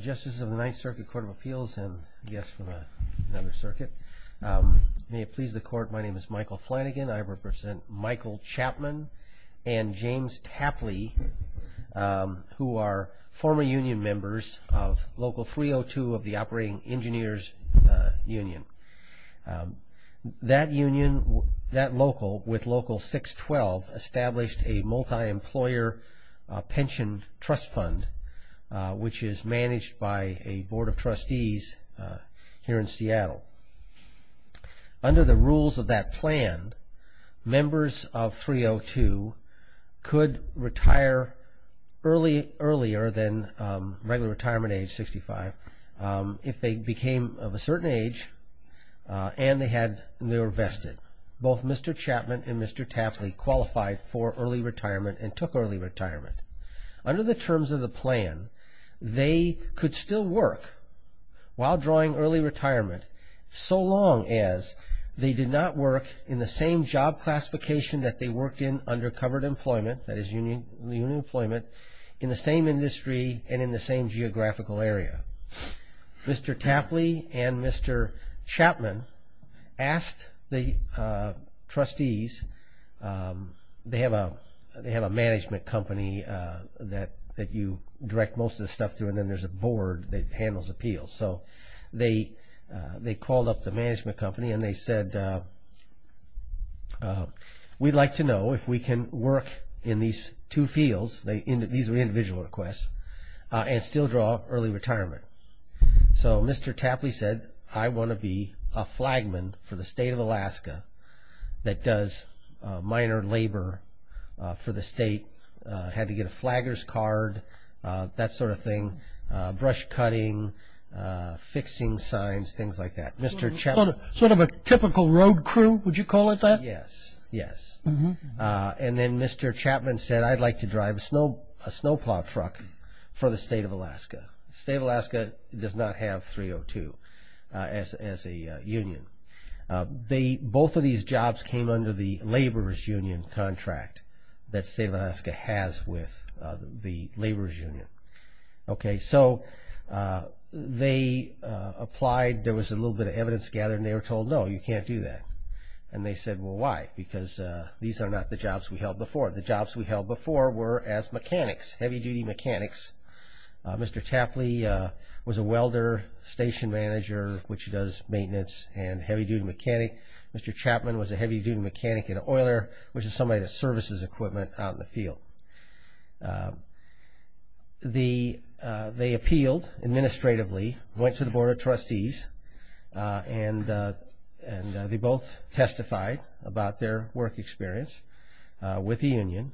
Justices of the Ninth Circuit Court of Appeals and guests from another circuit. May it please the court, my name is Michael Flanagan. I represent Michael Chapman and James Tapley who are former union members of Local 302 of the Operating Engineers Union. That union, that local with Local 612 established a managed by a board of trustees here in Seattle. Under the rules of that plan, members of 302 could retire early earlier than regular retirement age 65 if they became of a certain age and they were vested. Both Mr. Chapman and Mr. Tapley qualified for early retirement and took early retirement. Under the plan, they could still work while drawing early retirement so long as they did not work in the same job classification that they worked in under covered employment, that is union employment, in the same industry and in the same geographical area. Mr. Tapley and Mr. Chapman asked the trustees, they direct most of the stuff through and then there's a board that handles appeals, so they they called up the management company and they said we'd like to know if we can work in these two fields, these are individual requests, and still draw early retirement. So Mr. Tapley said I want to be a flagman for the state of Alaska that does minor labor for the state, had to get a flaggers card, that sort of thing, brush cutting, fixing signs, things like that. Sort of a typical road crew, would you call it that? Yes, yes, and then Mr. Chapman said I'd like to drive a snowplow truck for the state of Alaska. The state of Alaska does not have 302 as a union. Both of these jobs came under the laborers union contract that state of Alaska has with the laborers union. Okay, so they applied, there was a little bit of evidence gathered, and they were told no, you can't do that. And they said well why? Because these are not the jobs we held before. The jobs we held before were as mechanics, heavy-duty mechanics. Mr. Tapley was a welder, station manager, which does a heavy-duty mechanic and oiler, which is somebody that services equipment out in the field. They appealed administratively, went to the Board of Trustees, and they both testified about their work experience with the union.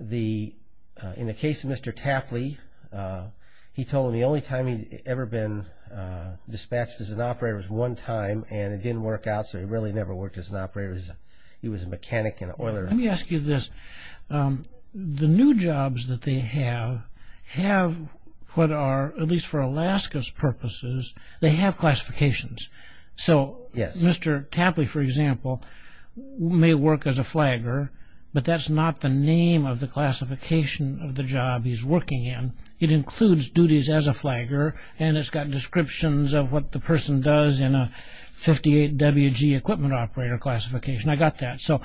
In the case of Mr. Tapley, he told them the only time he'd ever been dispatched as an operator was one time, and it didn't work out, so he really never worked as an operator. He was a mechanic and an oiler. Let me ask you this, the new jobs that they have, have what are, at least for Alaska's purposes, they have classifications. So, Mr. Tapley, for example, may work as a flagger, but that's not the name of the classification of the job he's working in. It includes duties as a flagger, and it's got descriptions of what the person does in a 58 WG equipment operator classification. I got that. So,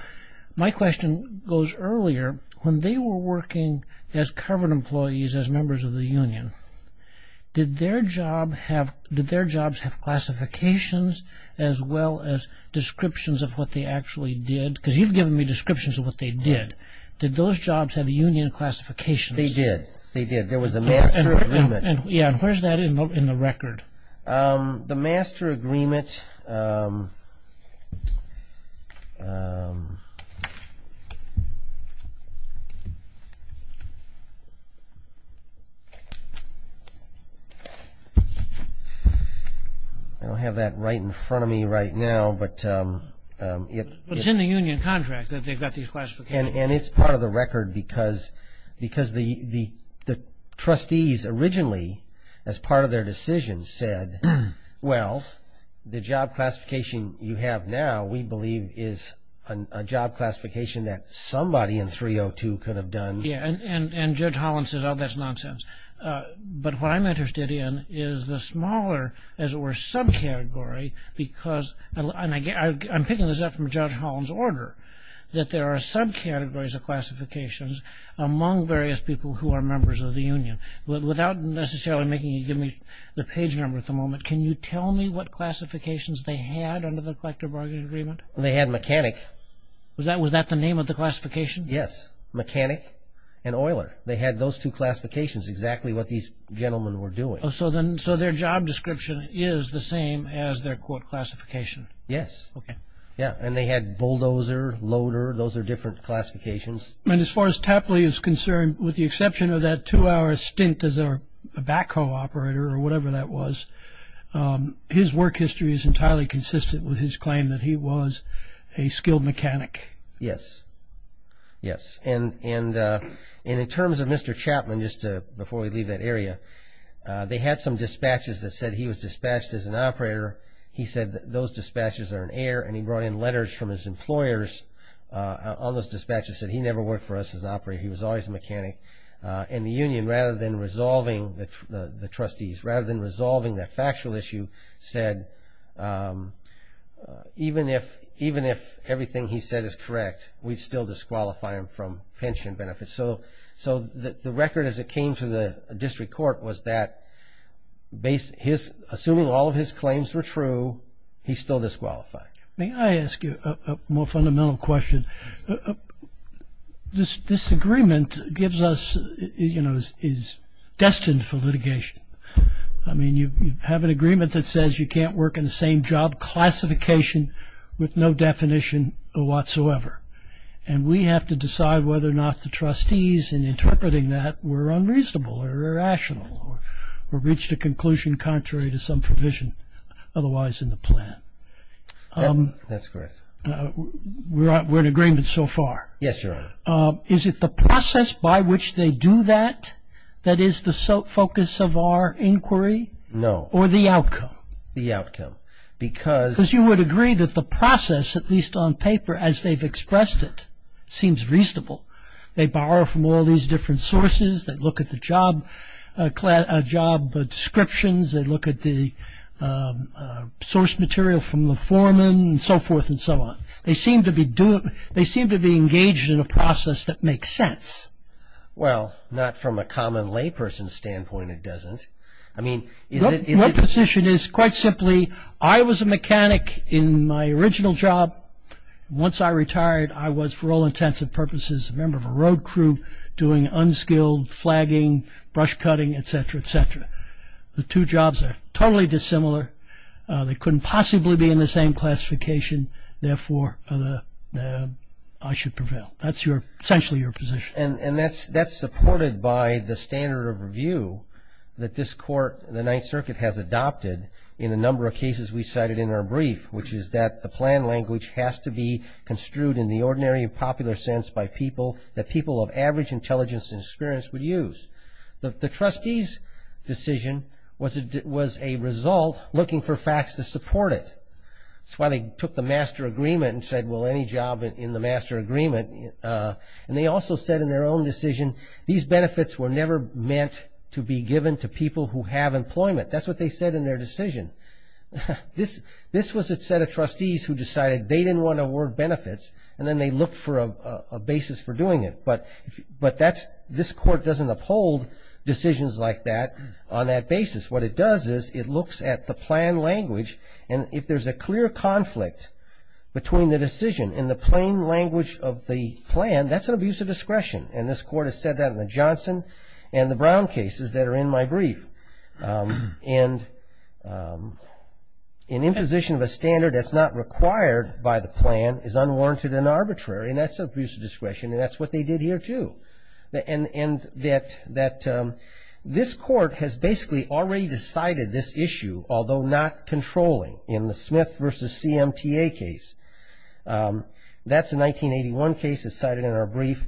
my question goes earlier. When they were working as covered employees, as members of the union, did their jobs have classifications as well as descriptions of what they actually did? Because you've given me descriptions of what they did. Did those jobs have union classifications? They did. They did. There is a master agreement. I don't have that right in front of me right now, but it's in the union contract that they've got these classifications. And it's part of the record because the trustees originally, as part of their decision, said, well, the job classification you have now, we believe, is a job classification that somebody in 302 could have done. Yeah, and Judge Holland said, oh, that's nonsense. But what I'm interested in is the smaller, as it were, subcategory, because, and I'm picking this up from Judge Holland's order, that there are subcategories of classifications among various people who are members of the union. Without necessarily making you give me the page number at the moment, can you tell me what classifications they had under the Collector Bargaining Agreement? They had mechanic. Was that the name of the classification? Yes, mechanic and oiler. They had those two classifications, exactly what these gentlemen were doing. So, their job description is the same as their quote, quote, classification. Yes. Okay. Yeah, and they had bulldozer, loader. Those are different classifications. And as far as Tapley is concerned, with the exception of that two-hour stint as a backhoe operator or whatever that was, his work history is entirely consistent with his claim that he was a skilled mechanic. Yes. Yes. And in terms of Mr. Chapman, just before we leave that area, they had some dispatches that said he was dispatched as an operator. He said that those dispatches are an error and he brought in letters from his employers on those dispatches that said he never worked for us as an operator. He was always a mechanic. And the union, rather than resolving the trustees, rather than resolving that factual issue, said even if everything he said is correct, we'd still disqualify him from pension benefits. So, the record as it came to the district court was that assuming all of his claims were true, he's still disqualified. May I ask you a more fundamental question? This agreement gives us, you know, is destined for litigation. I mean, you have an agreement that says you can't work in the same job classification with no definition whatsoever. And we have to decide whether or not the trustees in interpreting that were unreasonable or irrational or reached a conclusion contrary to some provision otherwise in the plan. That's correct. We're in agreement so far? Yes, Your Honor. Is it the process by which they do that that is the focus of our inquiry? No. Or the outcome? The outcome. Because you would agree that the process, at least on paper as they've expressed it, seems reasonable. They borrow from all these different sources. They look at the job descriptions. They look at the source material from the foreman and so forth and so on. They seem to be engaged in a process that makes sense. Well, not from a common layperson's standpoint it doesn't. I mean, is it... No. My position is, quite simply, I was a mechanic in my original job. Once I retired, I was, for all intents and purposes, a member of a road crew doing unskilled flagging, brush cutting, et cetera, et cetera. The two jobs are totally dissimilar. They couldn't possibly be in the same classification. Therefore, I should prevail. That's essentially your position. And that's supported by the standard of review that this court, the Ninth Circuit, has adopted in a number of cases we cited in our brief, which is that the plan language has to be construed in the ordinary and popular sense by people that people of average intelligence and experience would use. The trustees' decision was a result looking for facts to support it. That's why they took the master agreement and said, well, any job in the master agreement. And they also said in their own decision, these benefits were never meant to be given to people who have employment. That's what they said in their decision. This was a set of trustees who decided they didn't want to award benefits, and then they looked for a basis for doing it. But this court doesn't uphold decisions like that on that basis. What it does is it looks at the plan language. And if there's a clear conflict between the decision and the plain language of the plan, that's an abuse of discretion. And this court has said that in the Johnson and the Brown cases that are in my brief, an imposition of a standard that's not required by the plan is unwarranted and arbitrary. And that's an abuse of discretion. And that's what they did here, too. And that this court has basically already decided this issue, although not controlling, in the Smith versus CMTA case. That's a 1981 case that's cited in our brief.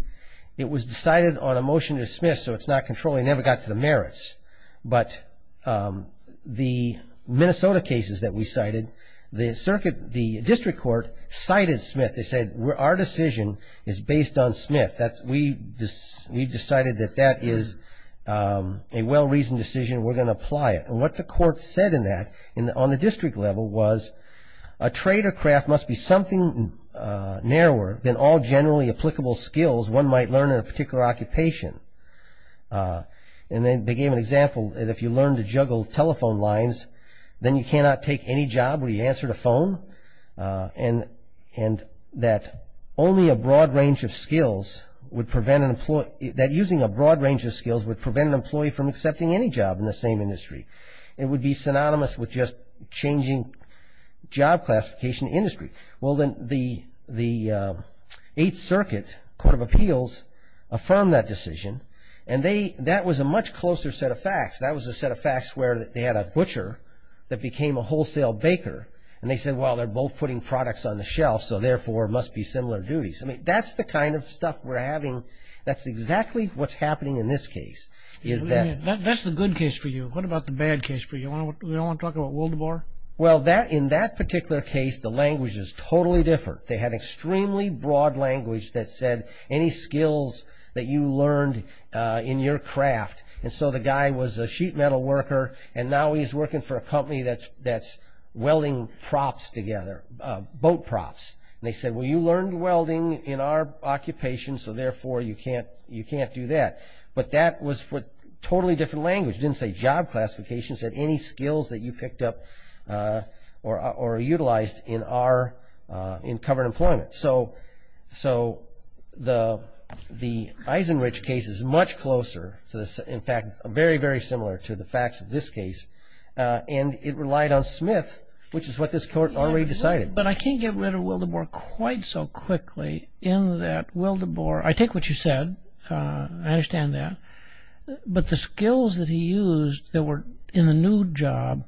It was decided on a motion to dismiss, so it's not controlling. It never got to the merits. But the Minnesota cases that we cited, the district court cited Smith. They said, our decision is based on Smith. We've decided that that is a well-reasoned decision. We're going to apply it. And what the court said in that on the district level was, a trade or craft must be something narrower than all generally applicable skills one might learn in a particular occupation. And they gave an example that if you learn to juggle telephone lines, then you cannot take any job where you answer the phone. And that only a broad range of skills would prevent an employee that using a broad range of skills would prevent an employee from accepting any job in the same industry. It would be synonymous with just changing job classification industry. Well, then the Eighth Circuit Court of Appeals affirmed that decision. And that was a much closer set of facts. That was a set of facts where they had a butcher that became a wholesale baker. And they said, well, they're both putting products on the shelf, so therefore, it must be similar duties. I mean, that's the kind of stuff we're having. That's exactly what's happening in this case, is that... That's the good case for you. What about the bad case for you? We don't want to talk about Wildebar? Well, in that particular case, the language is totally different. They had extremely broad language that said any skills that you learned in your craft. And so the guy was a sheet metal worker, and now he's working for a company that's welding props together, boat props. And they said, well, you learned welding in our occupation, so therefore, you can't do that. But that was totally different language. It didn't say job classification. It said any skills that you picked up or utilized in covered employment. So the Eisenrich case is much closer, in fact, very, very similar to the facts of this case. And it relied on Smith, which is what this court already decided. But I can't get rid of Wildebar quite so quickly, in that Wildebar... I take what you said. I understand that. But the skills that he used that were in a new job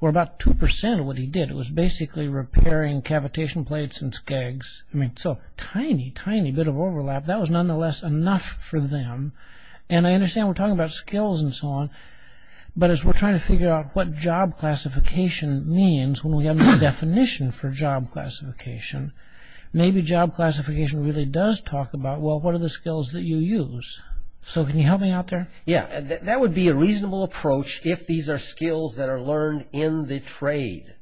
were about 2% of what he did. It was basically repairing cavitation plates and skegs. I mean, so tiny, tiny bit of overlap. That was nonetheless enough for them. And I understand we're talking about skills and so on. But as we're trying to figure out what job classification means when we have no definition for job classification, maybe job classification really does talk about, well, what are the skills that you use? So can you help me out there? Yeah. That would be a reasonable approach if these are skills that are learned in the trade.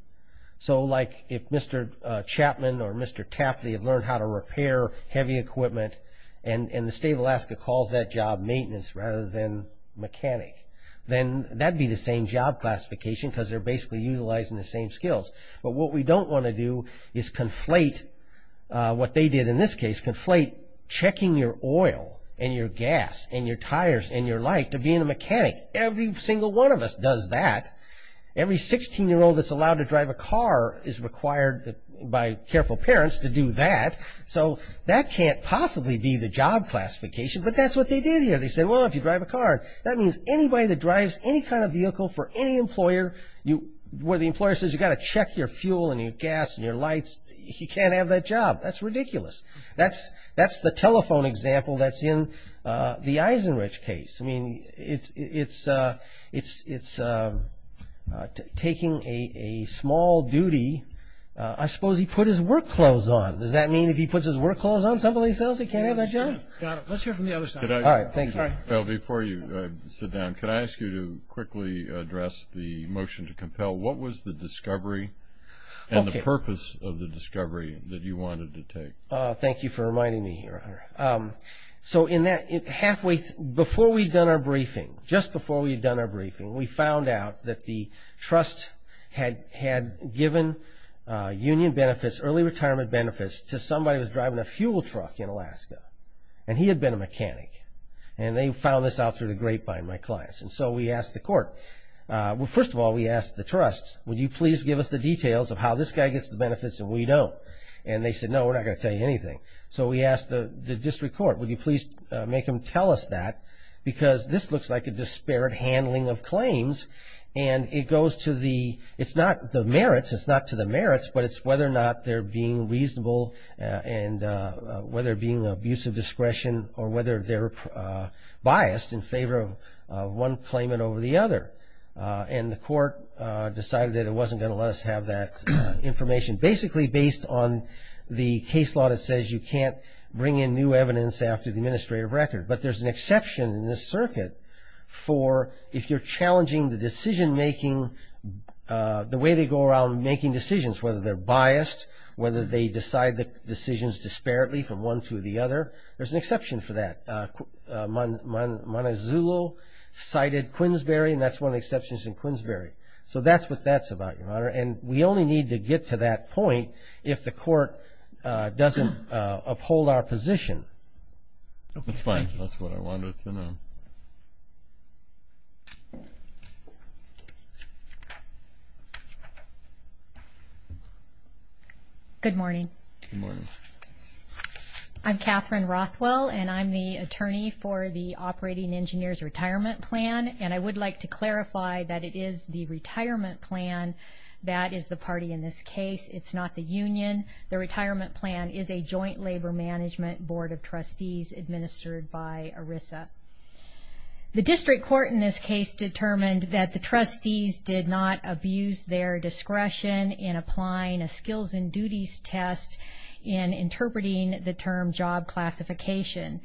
So like if Mr. Chapman or Mr. Tapley had learned how to repair heavy equipment and the state of Alaska calls that job maintenance rather than mechanic, then that'd be the same job classification because they're basically utilizing the same skills. But what we don't want to do is conflate what they did in this case, conflate checking your oil and your gas and your tires and your light to being a mechanic. Every single one of us does that. Every 16-year-old that's allowed to drive a car is required by careful parents to do that. So that can't possibly be the job classification. But that's what they did here. They said, well, if you drive a car, that means anybody that drives any kind of vehicle for any employer where the employer says you've got to check your fuel and your gas and your lights, he can't have that job. That's ridiculous. That's the telephone example that's in the Eisenrich case. I mean, it's taking a small duty. I suppose he put his work clothes on. Does that mean if he puts his work clothes on, somebody tells him he can't have that job? Got it. Let's hear from the other side. Before you sit down, could I ask you to quickly address the motion to compel? What was the discovery and the purpose of the discovery that you wanted to take? Thank you for reminding me here, Honor. Before we'd done our briefing, just before we'd done our briefing, we found out that the trust had given union benefits, early retirement benefits, to somebody who was driving a fuel truck in Alaska. And he had been a mechanic. And they found this out through the grapevine, my clients. And so we asked the court, well, first of all, we asked the trust, would you please give us the details of how this guy gets the benefits and we don't? And they said, no, we're not going to tell you anything. So we asked the district court, would you please make them tell us that? Because this looks like a disparate handling of claims. And it goes to the, it's not the merits, it's not to the merits, but it's whether or not they're being reasonable and whether being abusive discretion or whether they're biased in favor of one claimant over the other. And the court decided that it wasn't going to let us have that information. Basically based on the case law that says you can't bring in new evidence after the administrative record. But there's an exception in this circuit for if you're challenging the decision making, the way they go around making decisions, whether they're biased, whether they decide the decisions disparately from one to the other. There's an exception for that. Montezulo cited Quinsbury and that's one of the exceptions in Quinsbury. So that's what that's about, Your Honor. And we only need to get to that point if the court doesn't uphold our position. That's fine. That's what I wanted to know. Good morning. I'm Catherine Rothwell and I'm the attorney for the Operating Engineer's Retirement Plan. And I would like to clarify that it is the retirement plan that is the party in this case. It's not the union. The retirement plan is a joint labor management board of trustees administered by ERISA. The district court in this case determined that the trustees did not abuse their discretion in applying a skills and duties test in interpreting the term job classification.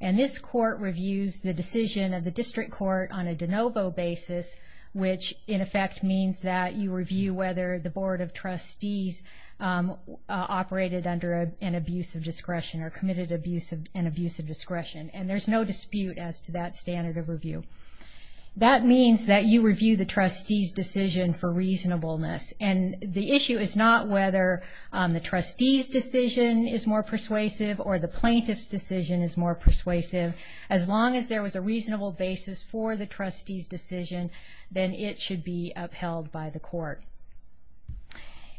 And this court reviews the decision of the district court on a de novo basis, which in effect means that you review whether the board of trustees operated under an abuse of discretion or committed an abuse of discretion. And there's no dispute as to that standard of review. That means that you review the trustee's decision for reasonableness. And the issue is not whether the trustee's decision is more persuasive or the plaintiff's decision is more persuasive. As long as there was a reasonable basis for the trustee's decision, then it should be upheld by the court.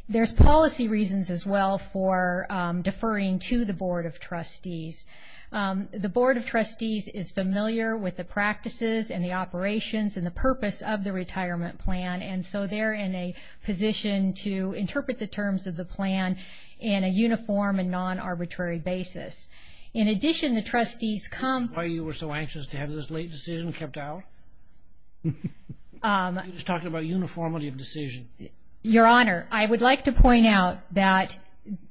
There's policy reasons as well for deferring to the board of trustees. The board of trustees is familiar with the practices and the operations and the purpose of the retirement plan. And so they're in a position to interpret the terms of the plan in a uniform and non-arbitrary basis. In addition, the trustees come... That's why you were so anxious to have this late decision kept out? You're just talking about uniformity of decision. Your Honor, I would like to point out that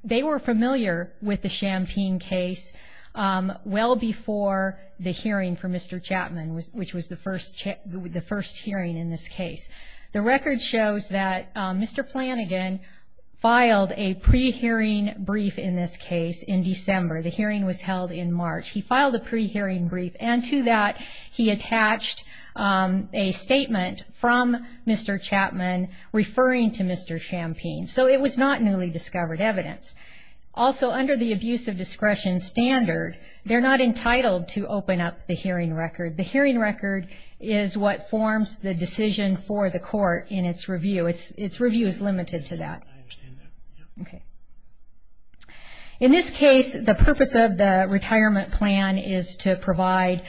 they were familiar with the Champaign case well before the hearing for Mr. Chapman, which was the first hearing in this case. The record shows that Mr. Flanagan filed a pre-hearing brief in this case in December. The hearing was held in March. He filed a pre-hearing brief and to that he attached a statement from Mr. Chapman referring to Mr. Champaign. So it was not newly discovered evidence. Also under the abuse of discretion standard, they're not entitled to open up the hearing record. The hearing record is what forms the decision for the court in its review. Its review is limited to that. Okay. In this case, the purpose of the retirement plan is to provide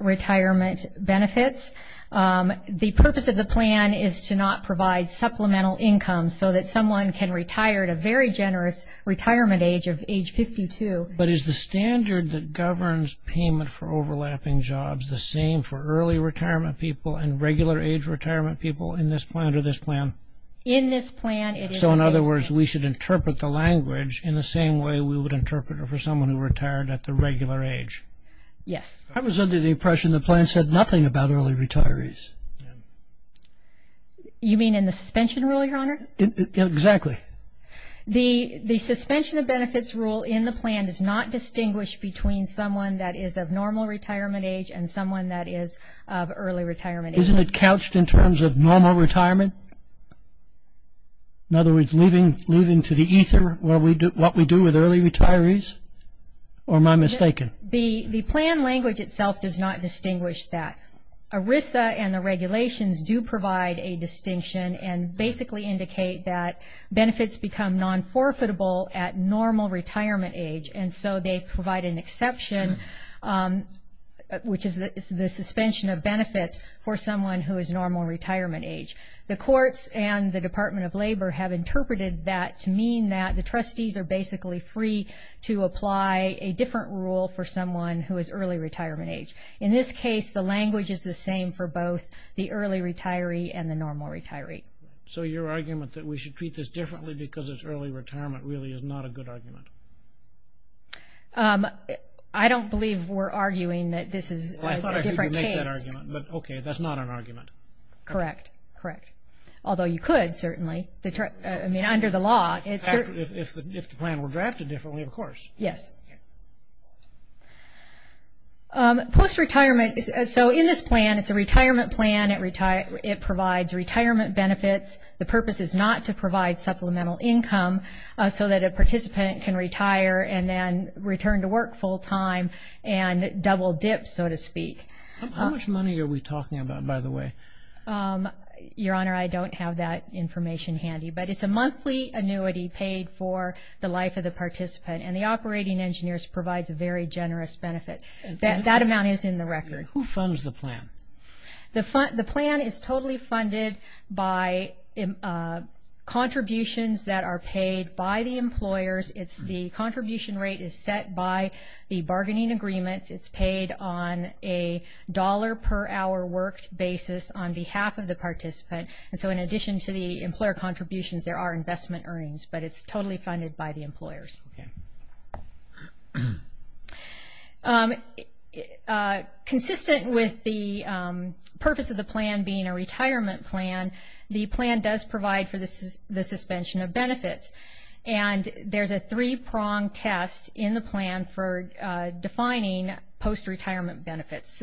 retirement benefits. The purpose of the plan is to not provide supplemental income so that someone can retire at a very generous retirement age of age 52. But is the standard that governs payment for overlapping jobs the same for early retirement people and regular age retirement people in this plan or this plan? In this plan, it is the same. So in other words, we should interpret the language in the same way we would interpret it for someone who retired at the regular age. Yes. I was under the impression the plan said nothing about early retirees. You mean in the suspension rule, Your Honor? Exactly. The suspension of benefits rule in the plan does not distinguish between someone that is of normal retirement age and someone that is of early retirement age. Isn't it couched in terms of normal retirement? In other words, leaving to the ether what we do with early retirees? Or am I mistaken? The plan language itself does not distinguish that. ERISA and the regulations do provide a distinction and basically indicate that benefits become non-forfeitable at normal retirement age. And so they provide an exception, which is the suspension of benefits for someone who is normal retirement age. The courts and the Department of Labor have interpreted that to mean that the trustees are basically free to apply a different rule for someone who is early retirement age. In this case, the language is the same for both the early retiree and the normal retiree. So your argument that we should treat this differently because it's early retirement really is not a good argument. I don't believe we're arguing that this is a different case. Well, I thought I heard you make that argument. But okay, that's not an argument. Correct. Correct. Although you could, certainly. I mean, under the law, it's certain. If the plan were drafted differently, of course. Yes. Post-retirement. So in this plan, it's a retirement plan. It provides retirement benefits. The purpose is not to provide supplemental income so that a participant can retire and then return to work full-time and double-dip, so to speak. How much money are we talking about, by the way? Your Honor, I don't have that information handy. But it's a monthly annuity paid for the life of the participant. And the Operating Engineers provides a very generous benefit. That amount is in the record. Who funds the plan? The plan is totally funded by contributions that are paid by the employers. It's the contribution rate is set by the bargaining agreements. It's paid on a dollar-per-hour work basis on behalf of the participant. And so in addition to the employer contributions, there are investment earnings. But it's totally funded by the employers. Okay. Consistent with the purpose of the plan being a retirement plan, the plan does provide for the suspension of benefits. And there's a three-pronged test in the plan for defining post-retirement benefits.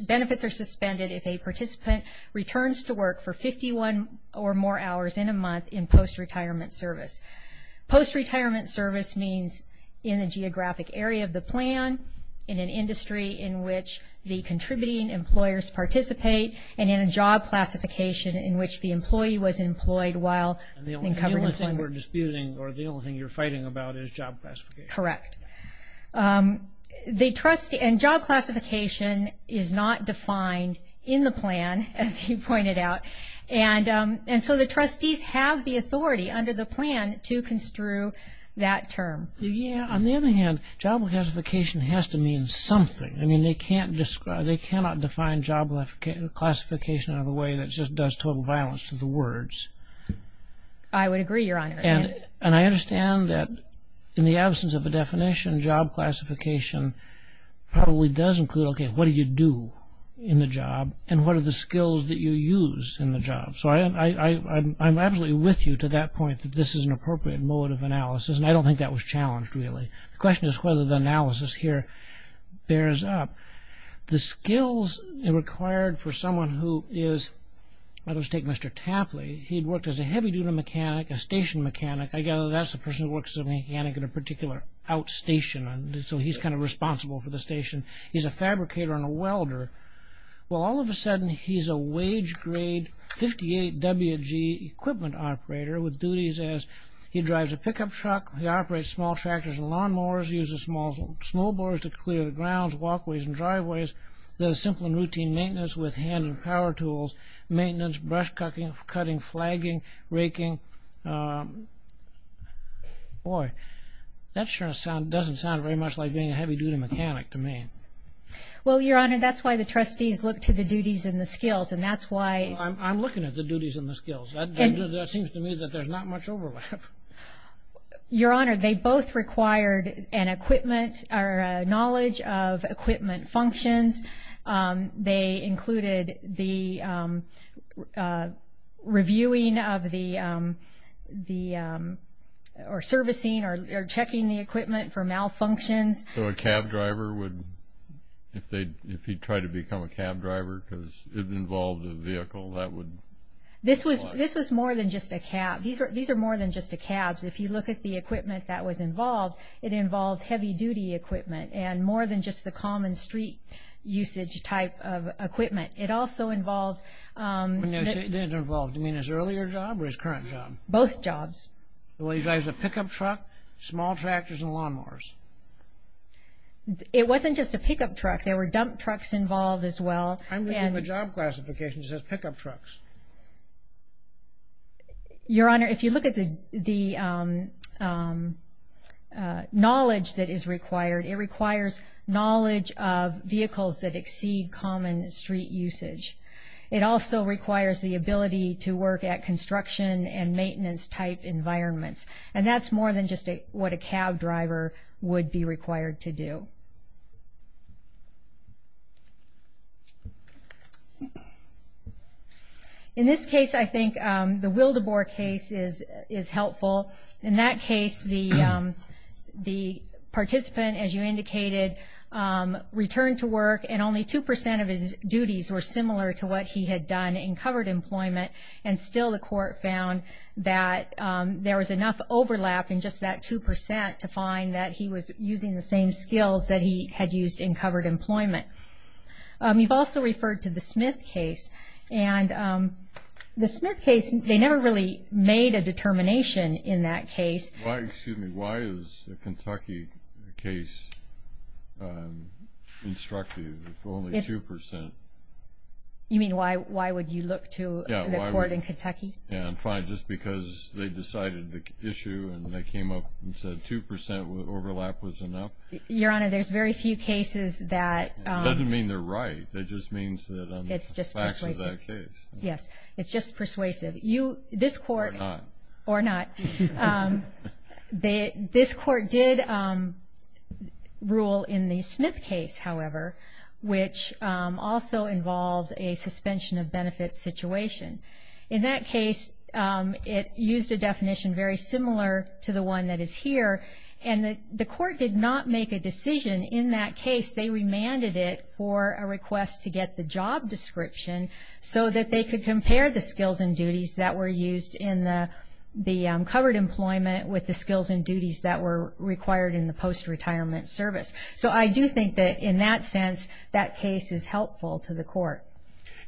Benefits are suspended if a participant returns to work for 51 or more hours in a month in post-retirement service. Post-retirement service means in a geographic area of the plan, in an industry in which the contributing employers participate, and in a job classification in which the employee was employed while in covered employment. And the only thing we're disputing or the only thing you're fighting about is job classification. Correct. The trustee and job classification is not defined in the plan, as you pointed out. And so the trustees have the authority under the plan to construe that term. Yeah. On the other hand, job classification has to mean something. I mean, they cannot define job classification in a way that just does total violence to the words. I would agree, Your Honor. And I understand that in the absence of a definition, job classification probably does include, okay, what do you do in the job? And what are the skills that you use in the job? So I'm absolutely with you to that point that this is an appropriate mode of analysis, and I don't think that was challenged, really. The question is whether the analysis here bears up. The skills required for someone who is, let's take Mr. Tapley, he had worked as a heavy duty mechanic, a station mechanic. I gather that's a person who works as a mechanic at a particular outstation, and so he's kind of responsible for the station. He's a fabricator and a welder. Well, all of a sudden, he's a wage-grade 58WG equipment operator with duties as he drives a pickup truck, he operates small tractors and lawnmowers, uses small snowboards to clear the grounds, walkways, and driveways, does simple and routine maintenance with hands and power tools, maintenance, brush cutting, flagging, raking, boy, that sure doesn't sound very much like being a heavy duty mechanic to me. Well, Your Honor, that's why the trustees look to the duties and the skills, and that's why... I'm looking at the duties and the skills. That seems to me that there's not much overlap. Your Honor, they both required an equipment, or a knowledge of equipment functions. They included the reviewing of the, or servicing or checking the equipment for malfunctions. So a cab driver would, if he tried to become a cab driver because it involved a vehicle, that would... This was more than just a cab. These are more than just a cab. If you look at the equipment that was involved, it involved heavy duty equipment, and more than just the common street usage type of equipment. It also involved... When you say it didn't involve, do you mean his earlier job or his current job? Both jobs. Well, he drives a pickup truck, small tractors, and lawnmowers. It wasn't just a pickup truck. There were dump trucks involved as well, and... I'm looking at the job classification that says pickup trucks. Your Honor, if you look at the knowledge that is required, it requires knowledge of vehicles that exceed common street usage. It also requires the ability to work at construction and maintenance type environments. And that's more than just what a cab driver would be required to do. In this case, I think the Wildebor case is helpful. In that case, the participant, as you indicated, returned to work, and only 2% of his duties were similar to what he had done in covered employment. And still the court found that there was enough overlap in just that 2% to find that he was using the same skills that he had used in covered employment. You've also referred to the Smith case, and the Smith case, they never really made a determination in that case. Why, excuse me, why is the Kentucky case instructive if only 2%? You mean why would you look to the court in Kentucky? Yeah, I'm trying just because they decided the issue, and they came up and said 2% overlap was enough? Your Honor, there's very few cases that... It doesn't mean they're right, it just means that on the facts of that case. It's just persuasive. You, this court... Or not. Or not. This court did rule in the Smith case, however, which also involved a suspension of benefits situation. In that case, it used a definition very similar to the one that is here, and the court did not make a decision in that case. They remanded it for a request to get the job description so that they could compare the skills and duties that were used in the covered employment with the skills and duties that were required in the post-retirement service. So I do think that in that sense, that case is helpful to the court.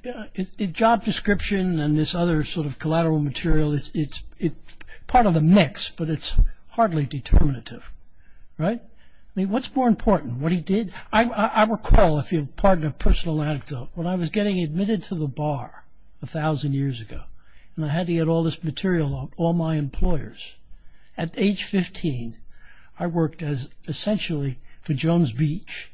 The job description and this other sort of collateral material, it's part of the mix, but it's hardly determinative, right? What's more important? What he did? I recall, if you'll pardon a personal anecdote, when I was getting admitted to the bar a thousand years ago, and I had to get all this material on all my employers. At age 15, I worked as essentially for Jones Beach.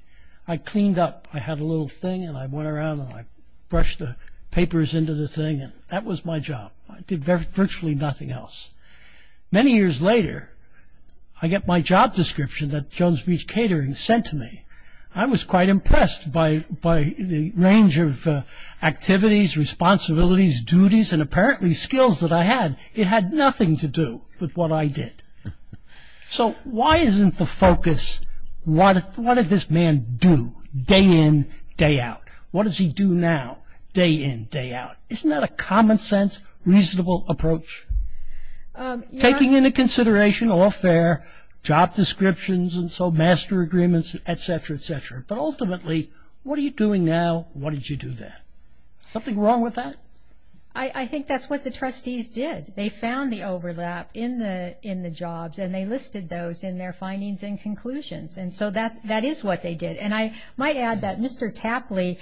I cleaned up. I had a little thing, and I went around, and I brushed the papers into the thing, and that was my job. I did virtually nothing else. Many years later, I get my job description that Jones Beach Catering sent to me. I was quite impressed by the range of activities, responsibilities, duties, and apparently skills that I had. It had nothing to do with what I did. So why isn't the focus, what did this man do, day in, day out? What does he do now, day in, day out? Isn't that a common sense, reasonable approach? Taking into consideration, all fair, job descriptions, and so master agreements, et cetera, et cetera, but ultimately, what are you doing now? Why did you do that? Something wrong with that? I think that's what the trustees did. They found the overlap in the jobs, and they listed those in their findings and conclusions, and so that is what they did, and I might add that Mr. Tapley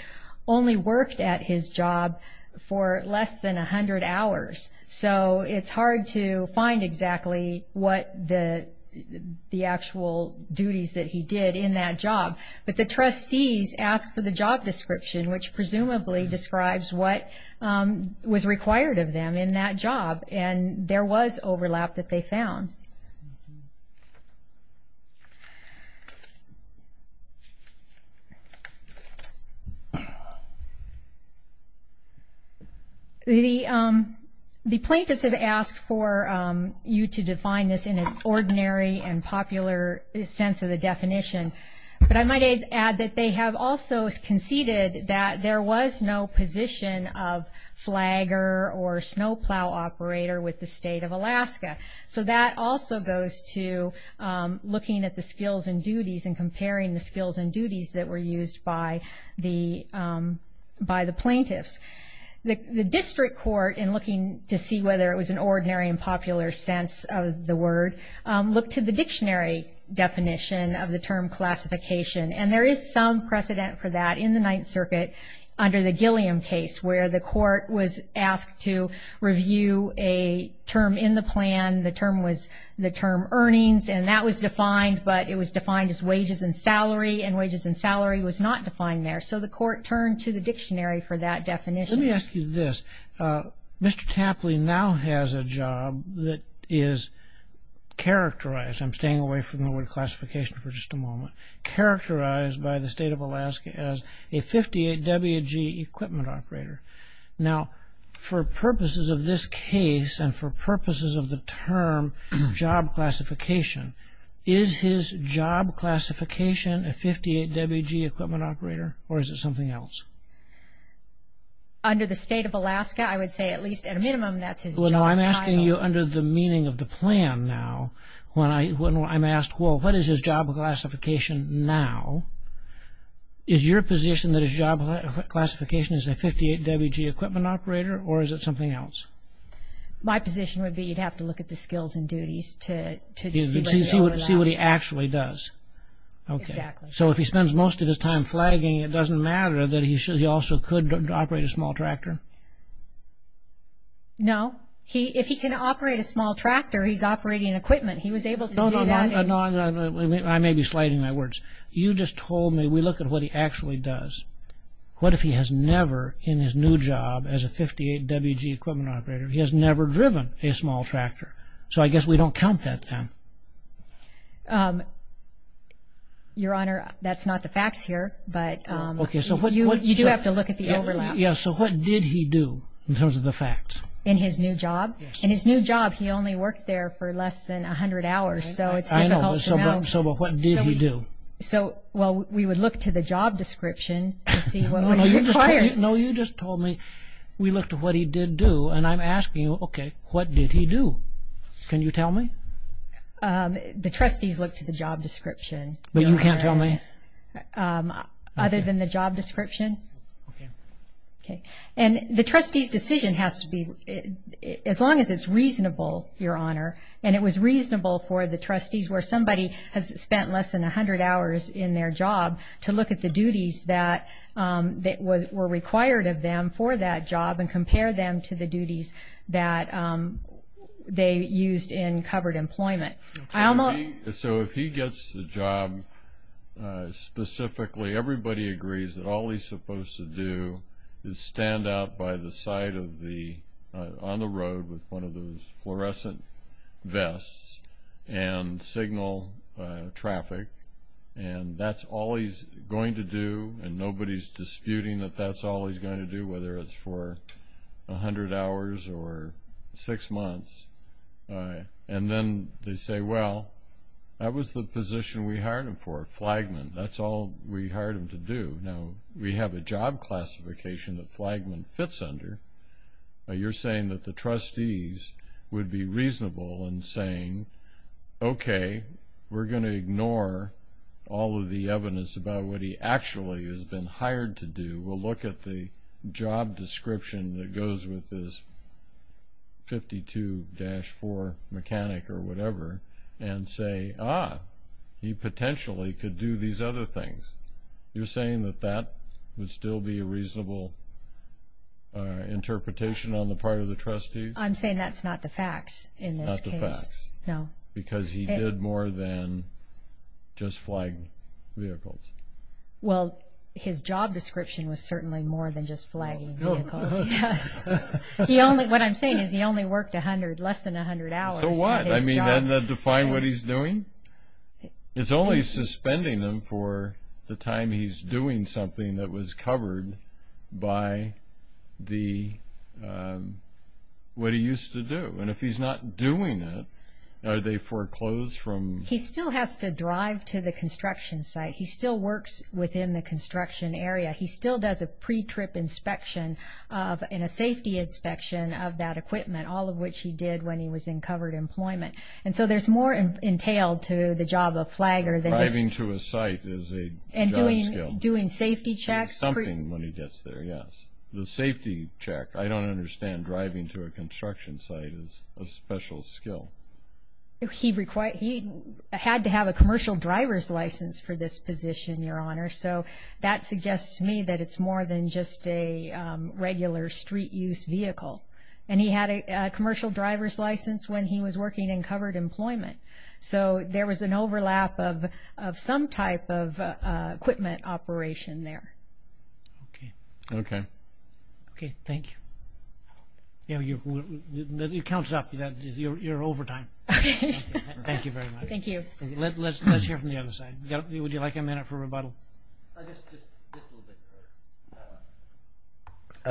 only worked at his job for less than 100 hours, so it's hard to find exactly what the actual duties that he did in that job, but the trustees asked for the job description, which presumably describes what was required of them in that job, and there was overlap that they found. The plaintiffs have asked for you to define this in its ordinary and popular sense of the definition, but I might add that they have also conceded that there was no position of flagger or snowplow operator with the state of Alaska, so that also goes to looking at the skills and duties and comparing the skills and duties that were used by the plaintiffs. The district court, in looking to see whether it was an ordinary and popular sense of the term classification, and there is some precedent for that in the Ninth Circuit under the Gilliam case where the court was asked to review a term in the plan. The term was the term earnings, and that was defined, but it was defined as wages and salary, and wages and salary was not defined there, so the court turned to the dictionary for that definition. Let me ask you this. Mr. Tapley now has a job that is characterized, I'm staying away from the word classification for just a moment, characterized by the state of Alaska as a 58WG equipment operator. Now, for purposes of this case and for purposes of the term job classification, is his job classification a 58WG equipment operator, or is it something else? Under the state of Alaska, I would say at least at a minimum that's his job title. I'm asking you under the meaning of the plan now, when I'm asked, well, what is his job classification now, is your position that his job classification is a 58WG equipment operator, or is it something else? My position would be you'd have to look at the skills and duties to see what he actually does. Exactly. So, if he spends most of his time flagging, it doesn't matter that he also could operate a small tractor? No. If he can operate a small tractor, he's operating equipment. He was able to do that. No, I may be sliding my words. You just told me, we look at what he actually does. What if he has never in his new job as a 58WG equipment operator, he has never driven a small tractor? So, I guess we don't count that then. Your Honor, that's not the facts here, but you do have to look at the overlap. Yes, so what did he do in terms of the facts? In his new job? In his new job, he only worked there for less than 100 hours, so it's difficult to know. I know, but what did he do? Well, we would look to the job description to see what was required. No, you just told me we looked at what he did do, and I'm asking you, okay, what did he do? Can you tell me? The trustees look to the job description. But you can't tell me? Other than the job description? Okay. And the trustee's decision has to be, as long as it's reasonable, Your Honor, and it was reasonable for the trustees where somebody has spent less than 100 hours in their job to look at the duties that were required of them for that job and compare them to the duties that they used in covered employment. So if he gets the job specifically, everybody agrees that all he's supposed to do is stand out by the side on the road with one of those fluorescent vests and signal traffic, and that's all he's going to do, and nobody's disputing that that's all he's going to do, whether it's for 100 hours or six months. And then they say, well, that was the position we hired him for, Flagman. That's all we hired him to do. Now, we have a job classification that Flagman fits under. You're saying that the trustees would be reasonable in saying, okay, we're going to ignore all of the evidence about what he actually has been hired to do. We'll look at the job description that goes with this 52-4 mechanic or whatever and say, ah, he potentially could do these other things. You're saying that that would still be a reasonable interpretation on the part of the trustees? I'm saying that's not the facts in this case. Not the facts. No. Because he did more than just flag vehicles. Well, his job description was certainly more than just flagging vehicles. Yes. What I'm saying is he only worked less than 100 hours. So what? I mean, doesn't that define what he's doing? It's only suspending him for the time he's doing something that was covered by what he used to do. And if he's not doing it, are they foreclosed from? He still has to drive to the construction site. He still works within the construction area. He still does a pre-trip inspection and a safety inspection of that equipment, all of which he did when he was in covered employment. And so there's more entailed to the job of flagger than this. Driving to a site is a job skill. And doing safety checks. There's something when he gets there, yes. The safety check. I don't understand driving to a construction site as a special skill. He had to have a commercial driver's license for this position, Your Honor. So that suggests to me that it's more than just a regular street use vehicle. And he had a commercial driver's license when he was working in covered employment. So there was an overlap of some type of equipment operation there. Okay. Okay. Okay, thank you. It counts up. You're over time. Thank you very much. Thank you. Let's hear from the other side. Would you like a minute for rebuttal? Just a little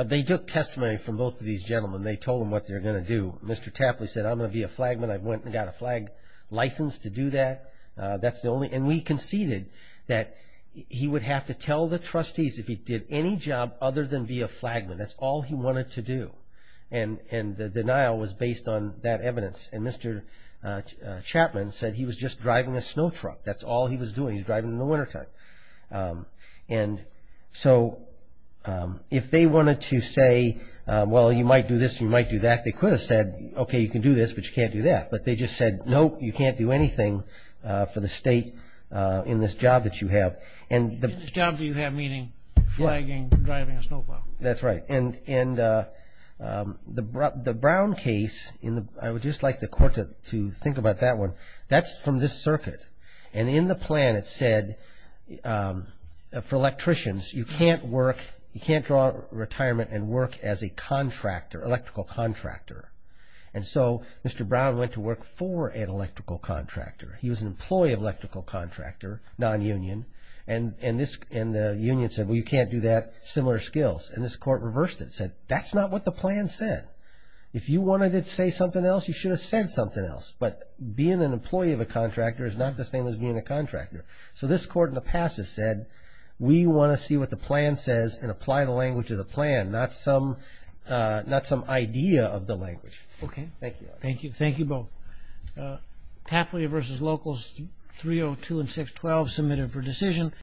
bit. They took testimony from both of these gentlemen. They told them what they were going to do. Mr. Tapley said, I'm going to be a flagman. I went and got a flag license to do that. And we conceded that he would have to tell the trustees if he did any job other than be a flagman. That's all he wanted to do. And the denial was based on that evidence. And Mr. Chapman said he was just driving a snow truck. That's all he was doing. He was driving in the wintertime. And so if they wanted to say, well, you might do this and you might do that, they could have said, okay, you can do this, but you can't do that. But they just said, nope, you can't do anything for the state in this job that you have. In this job that you have, meaning flagging and driving a snow plow. That's right. And the Brown case, I would just like the court to think about that one. That's from this circuit. And in the plan it said for electricians, you can't work, you can't draw retirement and work as a contractor, electrical contractor. And so Mr. Brown went to work for an electrical contractor. He was an employee of electrical contractor, non-union. And the union said, well, you can't do that, similar skills. And this court reversed it and said, that's not what the plan said. If you wanted to say something else, you should have said something else. But being an employee of a contractor is not the same as being a contractor. So this court in the past has said, we want to see what the plan says and apply the language of the plan, not some idea of the language. Okay. Thank you. Thank you both. Tapley versus Locals 302 and 612 submitted for decision.